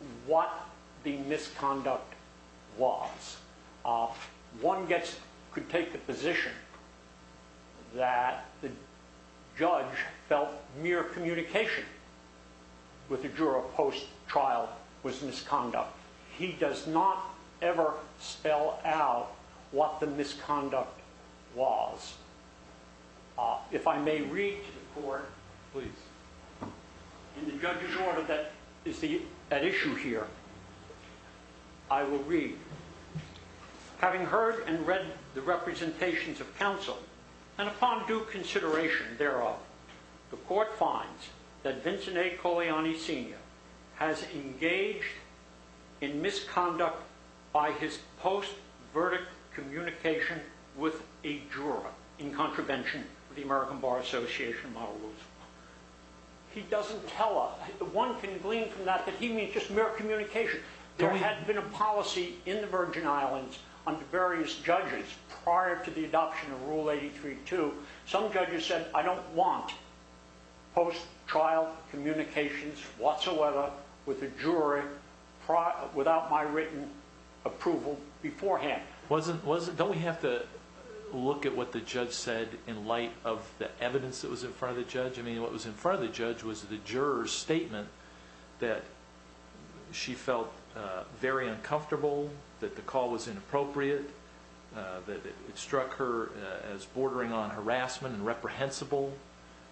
v. Yolanda Adams v. Ford Motor Co v. Ford Motor Co v. Ford Motor Co v v v v v v v v v v v v v v v v v v v I will read. Having heard and read the representations of counsel, and upon due consideration thereof, the court finds that Vincent A. Coliani, Sr. has engaged in misconduct by his post-verdict communication with a juror in contravention of the American Bar Association model rules. He doesn't tell us. One can glean from that that he means just mere communication. There had been a policy in the Virgin Islands under various judges prior to the adoption of Rule 83-2. Some judges said, I don't want post-trial communications whatsoever with a jury without my written approval beforehand. Don't we have to look at what the judge said in light of the evidence that was in front of the judge? I mean, what was in front of the judge was the juror's statement that she felt very uncomfortable, that the call was inappropriate, that it struck her as bordering on harassment and reprehensible.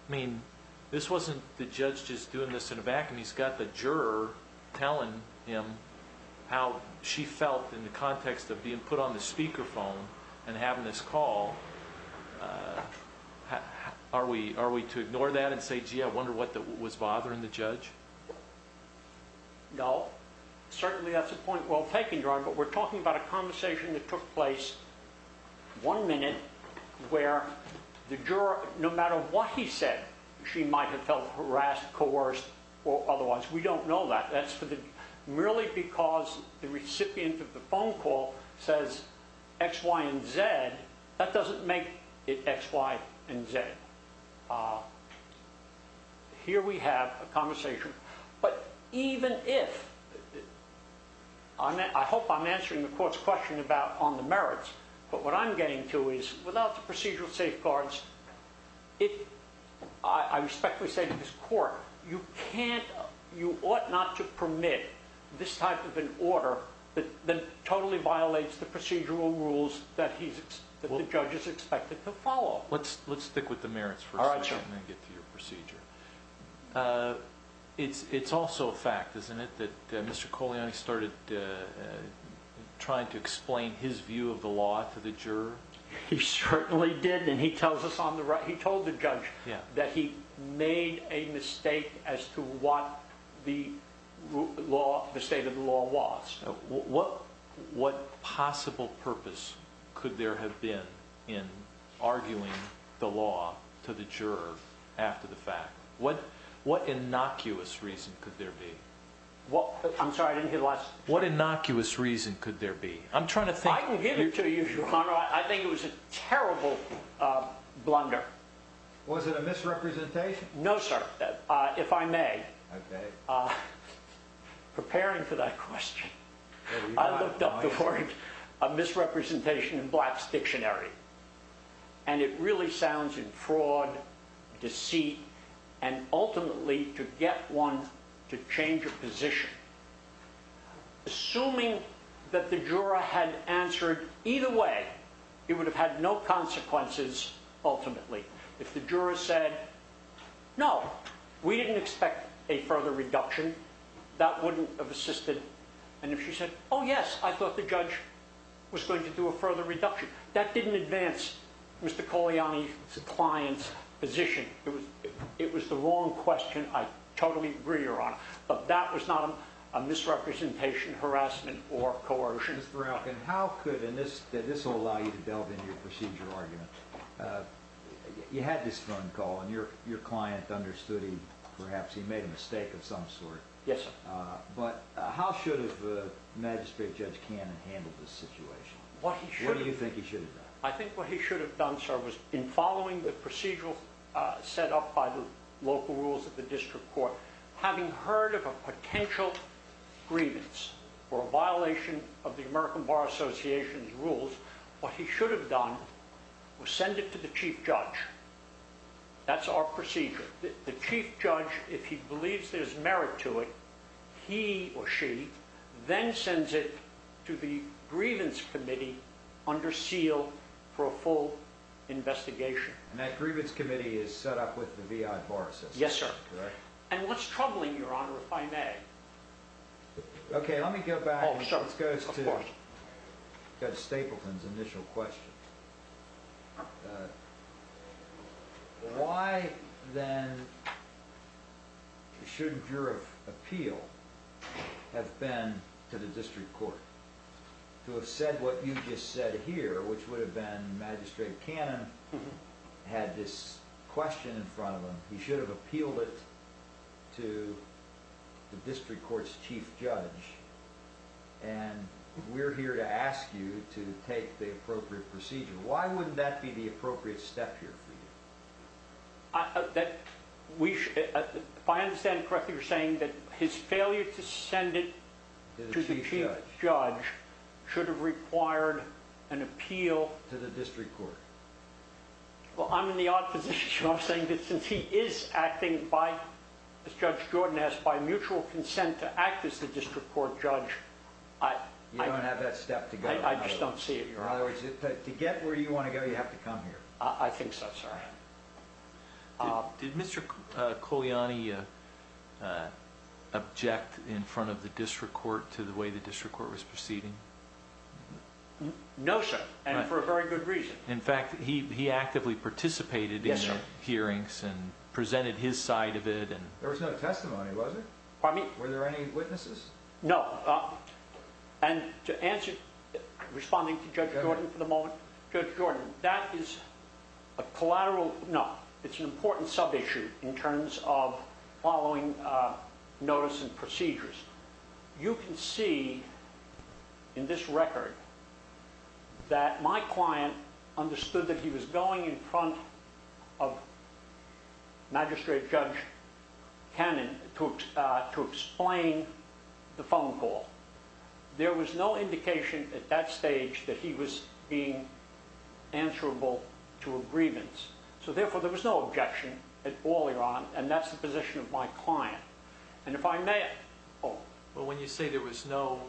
I mean, this wasn't the judge just doing this in a vacuum. He's got the juror telling him how she felt in the context of being put on the speakerphone and having this call. Are we to ignore that and say, gee, I wonder what was bothering the judge? No. Certainly that's a point well taken, Your Honor, but we're talking about a conversation that took place one minute where the juror, no matter what he said, she might have felt harassed, coerced, or otherwise. We don't know that. Merely because the recipient of the phone call says X, Y, and Z, that doesn't make it X, Y, and Z. Here we have a conversation. But even if, I hope I'm answering the court's question on the merits, but what I'm getting to is without the procedural safeguards, I respectfully say to this court, you ought not to permit this type of an order that totally violates the procedural rules that the judge is expected to follow. Let's stick with the merits for a second and then get to your procedure. It's also a fact, isn't it, that Mr. Coliani started trying to explain his view of the law to the juror? He certainly did, and he told the judge that he made a mistake as to what the state of the law was. What possible purpose could there have been in arguing the law to the juror after the fact? What innocuous reason could there be? I'm sorry, I didn't hear the last part. What innocuous reason could there be? I can give it to you, Your Honor. I think it was a terrible blunder. Was it a misrepresentation? No, sir, if I may. Preparing for that question, I looked up the word misrepresentation in Black's dictionary. And it really sounds in fraud, deceit, and ultimately to get one to change a position. Assuming that the juror had answered either way, it would have had no consequences ultimately. If the juror said, no, we didn't expect a further reduction, that wouldn't have assisted. And if she said, oh yes, I thought the judge was going to do a further reduction, that didn't advance Mr. Coliani's client's position. It was the wrong question. I totally agree, Your Honor. But that was not a misrepresentation, harassment, or coercion. Mr. Baralcon, how could, and this will allow you to delve into your procedure argument, you had this phone call, and your client understood he perhaps made a mistake of some sort. Yes, sir. But how should have Magistrate Judge Cannon handled this situation? What do you think he should have done? I think what he should have done, sir, was in following the procedural set up by the local rules of the district court, having heard of a potential grievance or a violation of the American Bar Association's rules, what he should have done was send it to the chief judge. That's our procedure. The chief judge, if he believes there's merit to it, he or she then sends it to the grievance committee under seal for a full investigation. And that grievance committee is set up with the VI Bar Association? Yes, sir. And what's troubling you, Your Honor, if I may? Okay, let me go back and let's go to Stapleton's initial question. Why then shouldn't your appeal have been to the district court? To have said what you just said here, which would have been Magistrate Cannon had this question in front of him, he should have appealed it to the district court's chief judge, and we're here to ask you to take the appropriate procedure. Why wouldn't that be the appropriate step here for you? If I understand it correctly, you're saying that his failure to send it to the chief judge should have required an appeal to the district court. Well, I'm in the odd position, Your Honor, of saying that since he is acting by, as Judge Jordan asked, by mutual consent to act as the district court judge. You don't have that step to go. I just don't see it, Your Honor. In other words, to get where you want to go, you have to come here. I think so, sir. Did Mr. Culiani object in front of the district court to the way the district court was proceeding? No, sir, and for a very good reason. In fact, he actively participated in the hearings and presented his side of it. There was no testimony, was there? Pardon me? Were there any witnesses? No, and to answer, responding to Judge Jordan for the moment, Judge Jordan, that is a collateral, no, it's an important sub-issue in terms of following notice and procedures. You can see in this record that my client understood that he was going in front of Magistrate Judge Cannon to explain the phone call. There was no indication at that stage that he was being answerable to a grievance, so therefore there was no objection at all, Your Honor, and that's the position of my client. And if I may... Well, when you say there was no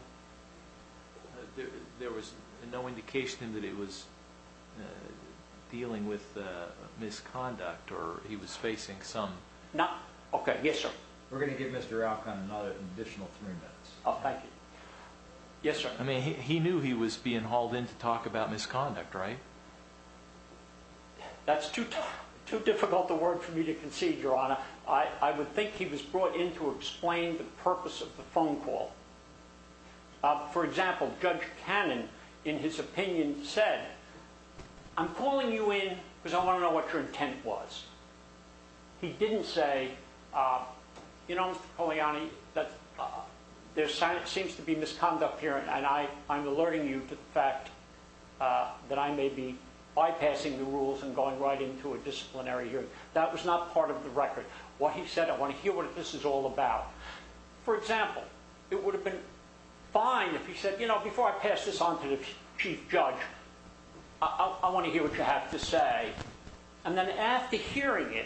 indication that he was dealing with misconduct or he was facing some... Okay, yes, sir. We're going to give Mr. Alcon another additional three minutes. Oh, thank you. Yes, sir. I mean, he knew he was being hauled in to talk about misconduct, right? That's too difficult a word for me to concede, Your Honor. I would think he was brought in to explain the purpose of the phone call. For example, Judge Cannon, in his opinion, said, I'm calling you in because I want to know what your intent was. He didn't say, you know, Mr. Poliani, there seems to be misconduct here and I'm alerting you to the fact that I may be bypassing the rules and going right into a disciplinary hearing. That was not part of the record. What he said, I want to hear what this is all about. For example, it would have been fine if he said, you know, before I pass this on to the Chief Judge, I want to hear what you have to say. And then after hearing it,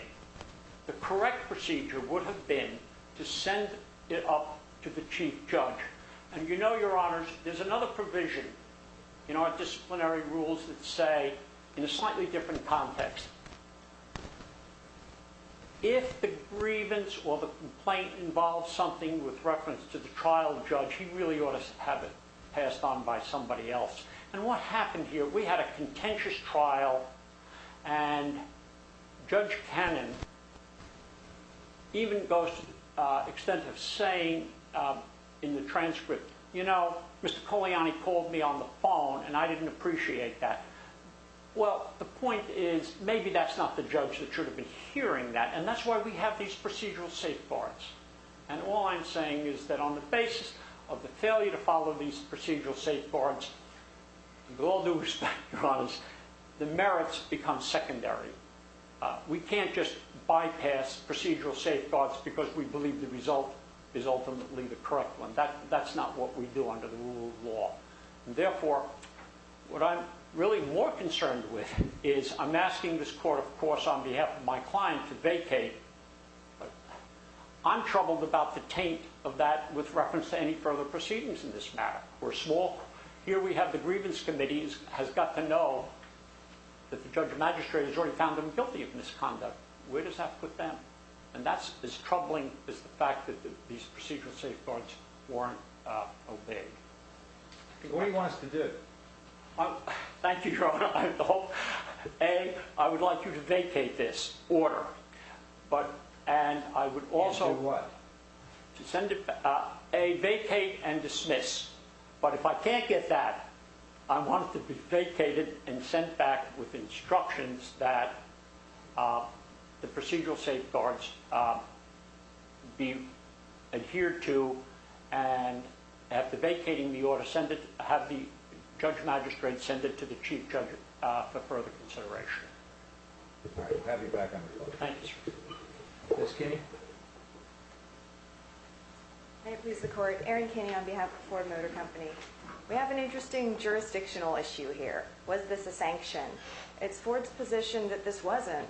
the correct procedure would have been to send it up to the Chief Judge. And you know, Your Honors, there's another provision in our disciplinary rules that say, in a slightly different context, if the grievance or the complaint involves something with reference to the trial judge, he really ought to have it passed on by somebody else. And what happened here, we had a contentious trial, and Judge Cannon even goes to the extent of saying in the transcript, you know, Mr. Poliani called me on the phone and I didn't appreciate that. Well, the point is, maybe that's not the judge that should have been hearing that, and that's why we have these procedural safeguards. And all I'm saying is that on the basis of the failure to follow these procedural safeguards, with all due respect, Your Honors, the merits become secondary. We can't just bypass procedural safeguards because we believe the result is ultimately the correct one. That's not what we do under the rule of law. Therefore, what I'm really more concerned with is, I'm asking this court, of course, on behalf of my client, to vacate. I'm troubled about the taint of that with reference to any further proceedings in this matter. We're small. Here we have the grievance committee has got to know that the judge or magistrate has already found them guilty of misconduct. Where does that put them? And that's as troubling as the fact that these procedural safeguards weren't obeyed. What do you want us to do? Thank you, Your Honor. A, I would like you to vacate this order. And do what? A, vacate and dismiss. But if I can't get that, I want it to be vacated and sent back with instructions that the procedural safeguards be adhered to. And after vacating the order, have the judge magistrate send it to the chief judge for further consideration. All right. We'll have you back on the floor. Thank you, sir. Ms. Kinney? May it please the court. Erin Kinney on behalf of Ford Motor Company. We have an interesting jurisdictional issue here. Was this a sanction? It's Ford's position that this wasn't.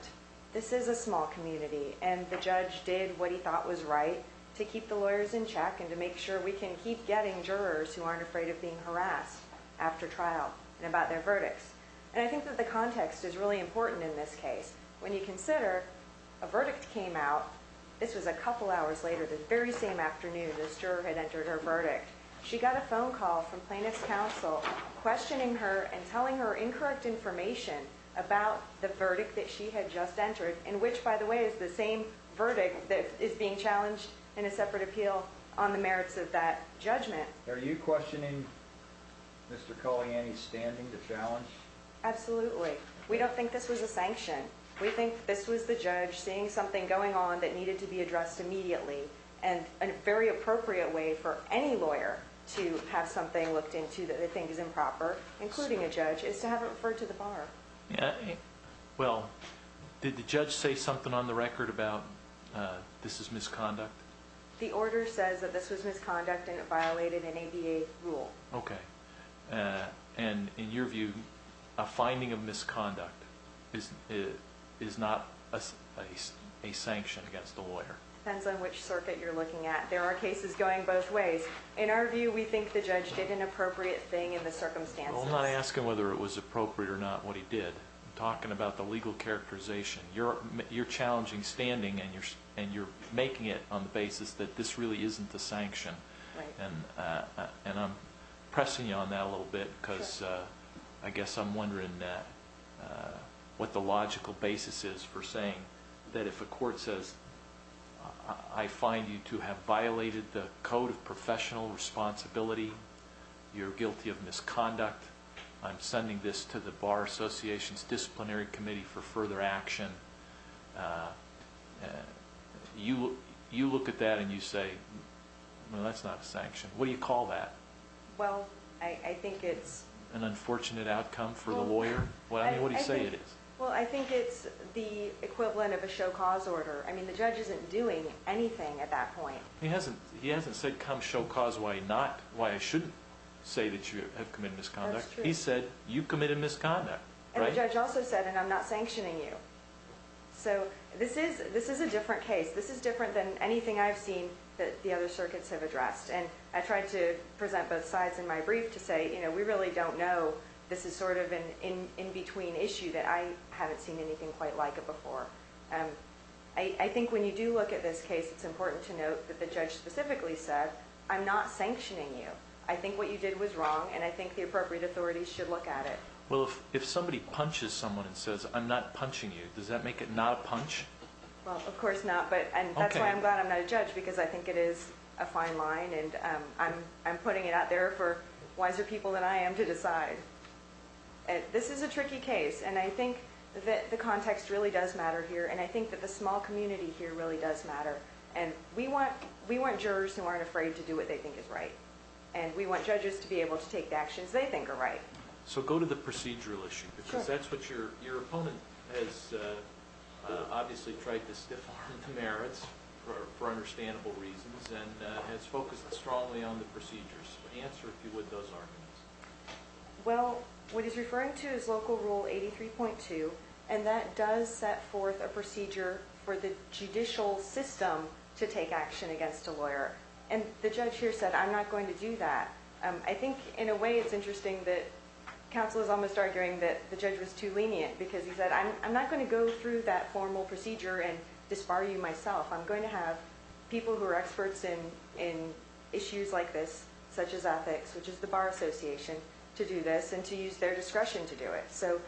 This is a small community. And the judge did what he thought was right to keep the lawyers in check and to make sure we can keep getting jurors who aren't afraid of being harassed after trial and about their verdicts. And I think that the context is really important in this case. When you consider a verdict came out, this was a couple hours later, the very same afternoon this juror had entered her verdict. She got a phone call from plaintiff's counsel questioning her and telling her incorrect information about the verdict that she had just entered, in which, by the way, is the same verdict that is being challenged in a separate appeal on the merits of that judgment. Are you questioning Mr. Colliani's standing to challenge? Absolutely. We don't think this was a sanction. We think this was the judge seeing something going on that needed to be addressed immediately and a very appropriate way for any lawyer to have something looked into that they think is improper, including a judge, is to have it referred to the bar. Well, did the judge say something on the record about this is misconduct? The order says that this was misconduct and it violated an ADA rule. Okay. And in your view, a finding of misconduct is not a sanction against the lawyer? Depends on which circuit you're looking at. There are cases going both ways. In our view, we think the judge did an appropriate thing in the circumstances. I'm not asking whether it was appropriate or not what he did. I'm talking about the legal characterization. You're challenging standing and you're making it on the basis that this really isn't a sanction. Right. And I'm pressing you on that a little bit because I guess I'm wondering what the logical basis is for saying that if a court says, I find you to have violated the Code of Professional Responsibility, you're guilty of misconduct, I'm sending this to the Bar Association's Disciplinary Committee for further action, you look at that and you say, no, that's not a sanction. What do you call that? Well, I think it's... An unfortunate outcome for the lawyer? I mean, what do you say it is? Well, I think it's the equivalent of a show cause order. I mean, the judge isn't doing anything at that point. He hasn't said come show cause why I shouldn't say that you have committed misconduct. That's true. He said, you committed misconduct. And the judge also said, and I'm not sanctioning you. So this is a different case. This is different than anything I've seen that the other circuits have addressed. And I tried to present both sides in my brief to say, you know, we really don't know. This is sort of an in-between issue that I haven't seen anything quite like it before. I think when you do look at this case, it's important to note that the judge specifically said, I'm not sanctioning you. I think what you did was wrong. And I think the appropriate authorities should look at it. Well, if somebody punches someone and says, I'm not punching you, does that make it not a punch? Well, of course not. But that's why I'm glad I'm not a judge, because I think it is a fine line. And I'm putting it out there for wiser people than I am to decide. This is a tricky case. And I think that the context really does matter here. And I think that the small community here really does matter. And we want jurors who aren't afraid to do what they think is right. And we want judges to be able to take the actions they think are right. So go to the procedural issue, because that's what your opponent has obviously tried to stifle into merits, for understandable reasons, and has focused strongly on the procedures. Answer, if you would, those arguments. Well, what he's referring to is Local Rule 83.2. And that does set forth a procedure for the judicial system to take action against a lawyer. And the judge here said, I'm not going to do that. I think, in a way, it's interesting that counsel is almost arguing that the judge was too lenient, because he said, I'm not going to go through that formal procedure and disbar you myself. I'm going to have people who are experts in issues like this, such as ethics, which is the Bar Association, to do this and to use their discretion to do it. So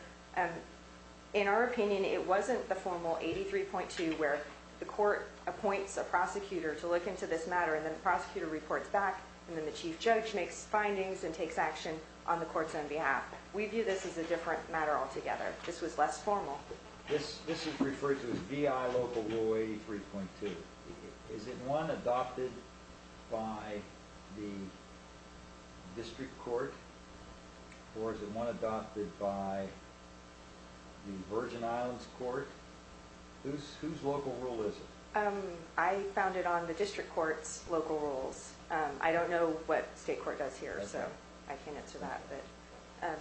in our opinion, it wasn't the formal 83.2 where the court appoints a prosecutor to look into this matter, and then the prosecutor reports back, and then the chief judge makes findings and takes action on the court's own behalf. We view this as a different matter altogether. This was less formal. This is referred to as VI Local Rule 83.2. Is it one adopted by the district court, or is it one adopted by the Virgin Islands Court? Whose local rule is it? I found it on the district court's local rules. I don't know what state court does here, so I can't answer that.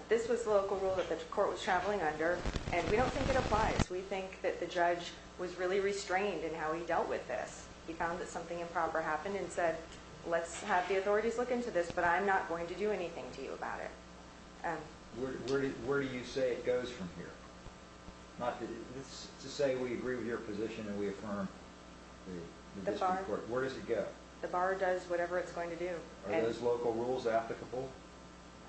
This was the local rule that the court was traveling under, and we don't think it applies. We think that the judge was really restrained in how he dealt with this. He found that something improper happened and said, let's have the authorities look into this, but I'm not going to do anything to you about it. Where do you say it goes from here? Let's just say we agree with your position and we affirm the district court. Where does it go? The bar does whatever it's going to do. Are those local rules applicable?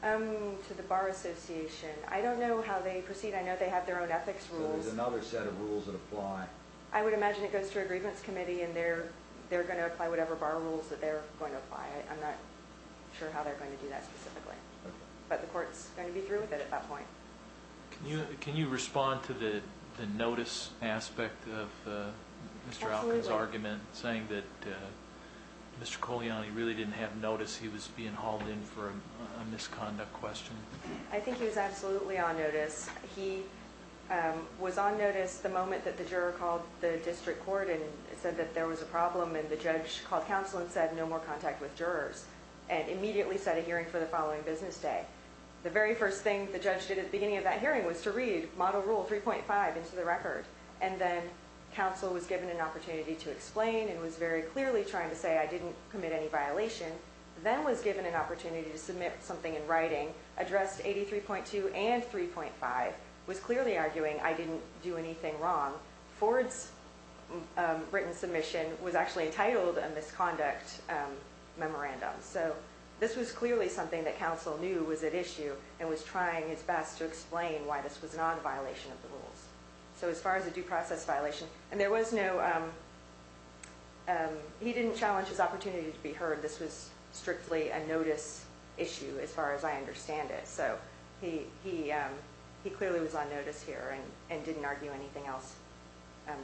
To the bar association. I don't know how they proceed. I know they have their own ethics rules. There's another set of rules that apply. I would imagine it goes to a grievance committee, and they're going to apply whatever bar rules that they're going to apply. I'm not sure how they're going to do that specifically, but the court's going to be through with it at that point. Can you respond to the notice aspect of Mr. Alkin's argument, saying that Mr. Coliani really didn't have notice he was being hauled in for a misconduct question? I think he was absolutely on notice. He was on notice the moment that the juror called the district court and said that there was a problem, and the judge called counsel and said, no more contact with jurors, and immediately set a hearing for the following business day. The very first thing the judge did at the beginning of that hearing was to read model rule 3.5 into the record, and then counsel was given an opportunity to explain and was very clearly trying to say I didn't commit any violation, then was given an opportunity to submit something in writing addressed 83.2 and 3.5, was clearly arguing I didn't do anything wrong. Ford's written submission was actually entitled a misconduct memorandum. So this was clearly something that counsel knew was at issue and was trying his best to explain why this was not a violation of the rules. So as far as a due process violation, and there was no, he didn't challenge his opportunity to be heard. This was strictly a notice issue as far as I understand it. So he clearly was on notice here and didn't argue anything else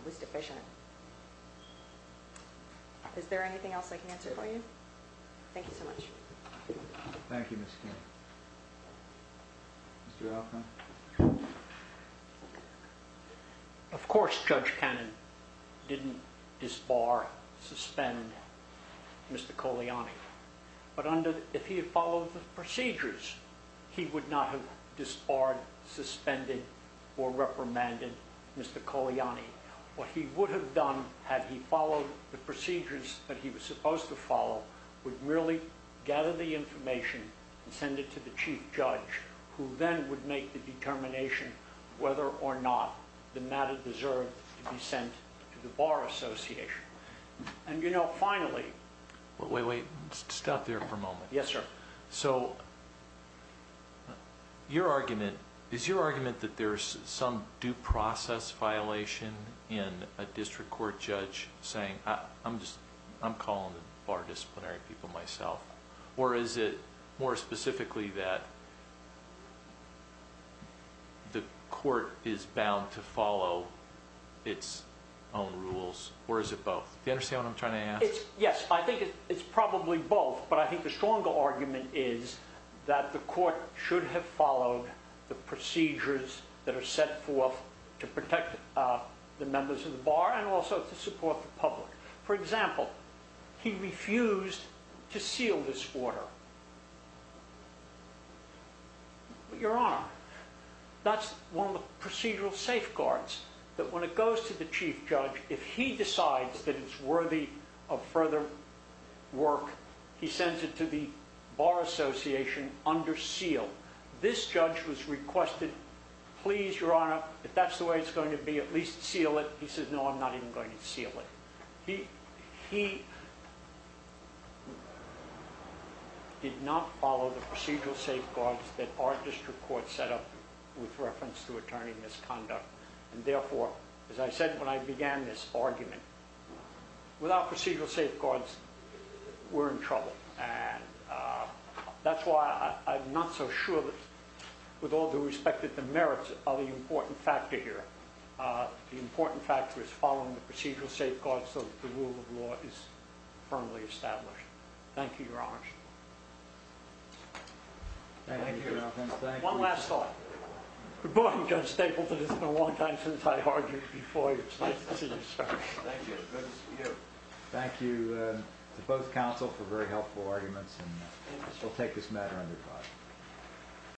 was deficient. Is there anything else I can answer for you? Thank you so much. Thank you, Ms. King. Mr. Altman. Of course, Judge Cannon didn't disbar, suspend Mr. Coliani. But if he had followed the procedures, he would not have disbarred, suspended, or reprimanded Mr. Coliani. What he would have done had he followed the procedures that he was supposed to follow, would merely gather the information and send it to the chief judge, who then would make the determination whether or not the matter deserved to be sent to the Bar Association. And, you know, finally... Wait, wait. Stop there for a moment. Yes, sir. So your argument, is your argument that there's some due process violation in a district court judge saying, I'm calling the bar disciplinary people myself, or is it more specifically that the court is bound to follow its own rules, or is it both? Do you understand what I'm trying to ask? Yes, I think it's probably both. But I think the stronger argument is that the court should have followed the procedures that are set forth to protect the members of the bar and also to support the public. For example, he refused to seal this order. Your Honor, that's one of the procedural safeguards, that when it goes to the chief judge, if he decides that it's worthy of further work, he sends it to the Bar Association under seal. This judge was requested, please, Your Honor, if that's the way it's going to be, at least seal it. He says, no, I'm not even going to seal it. He did not follow the procedural safeguards that our district court set up with reference to attorney misconduct. And therefore, as I said when I began this argument, without procedural safeguards, we're in trouble. And that's why I'm not so sure that with all due respect that the merits are the important factor here. The important factor is following the procedural safeguards so that the rule of law is firmly established. Thank you, Your Honor. One last thought. Good morning, Judge Stapleton. It's been a long time since I argued before. It's nice to see you, sir. Thank you. Good to see you. Thank you to both counsel for very helpful arguments. And we'll take this matter under court.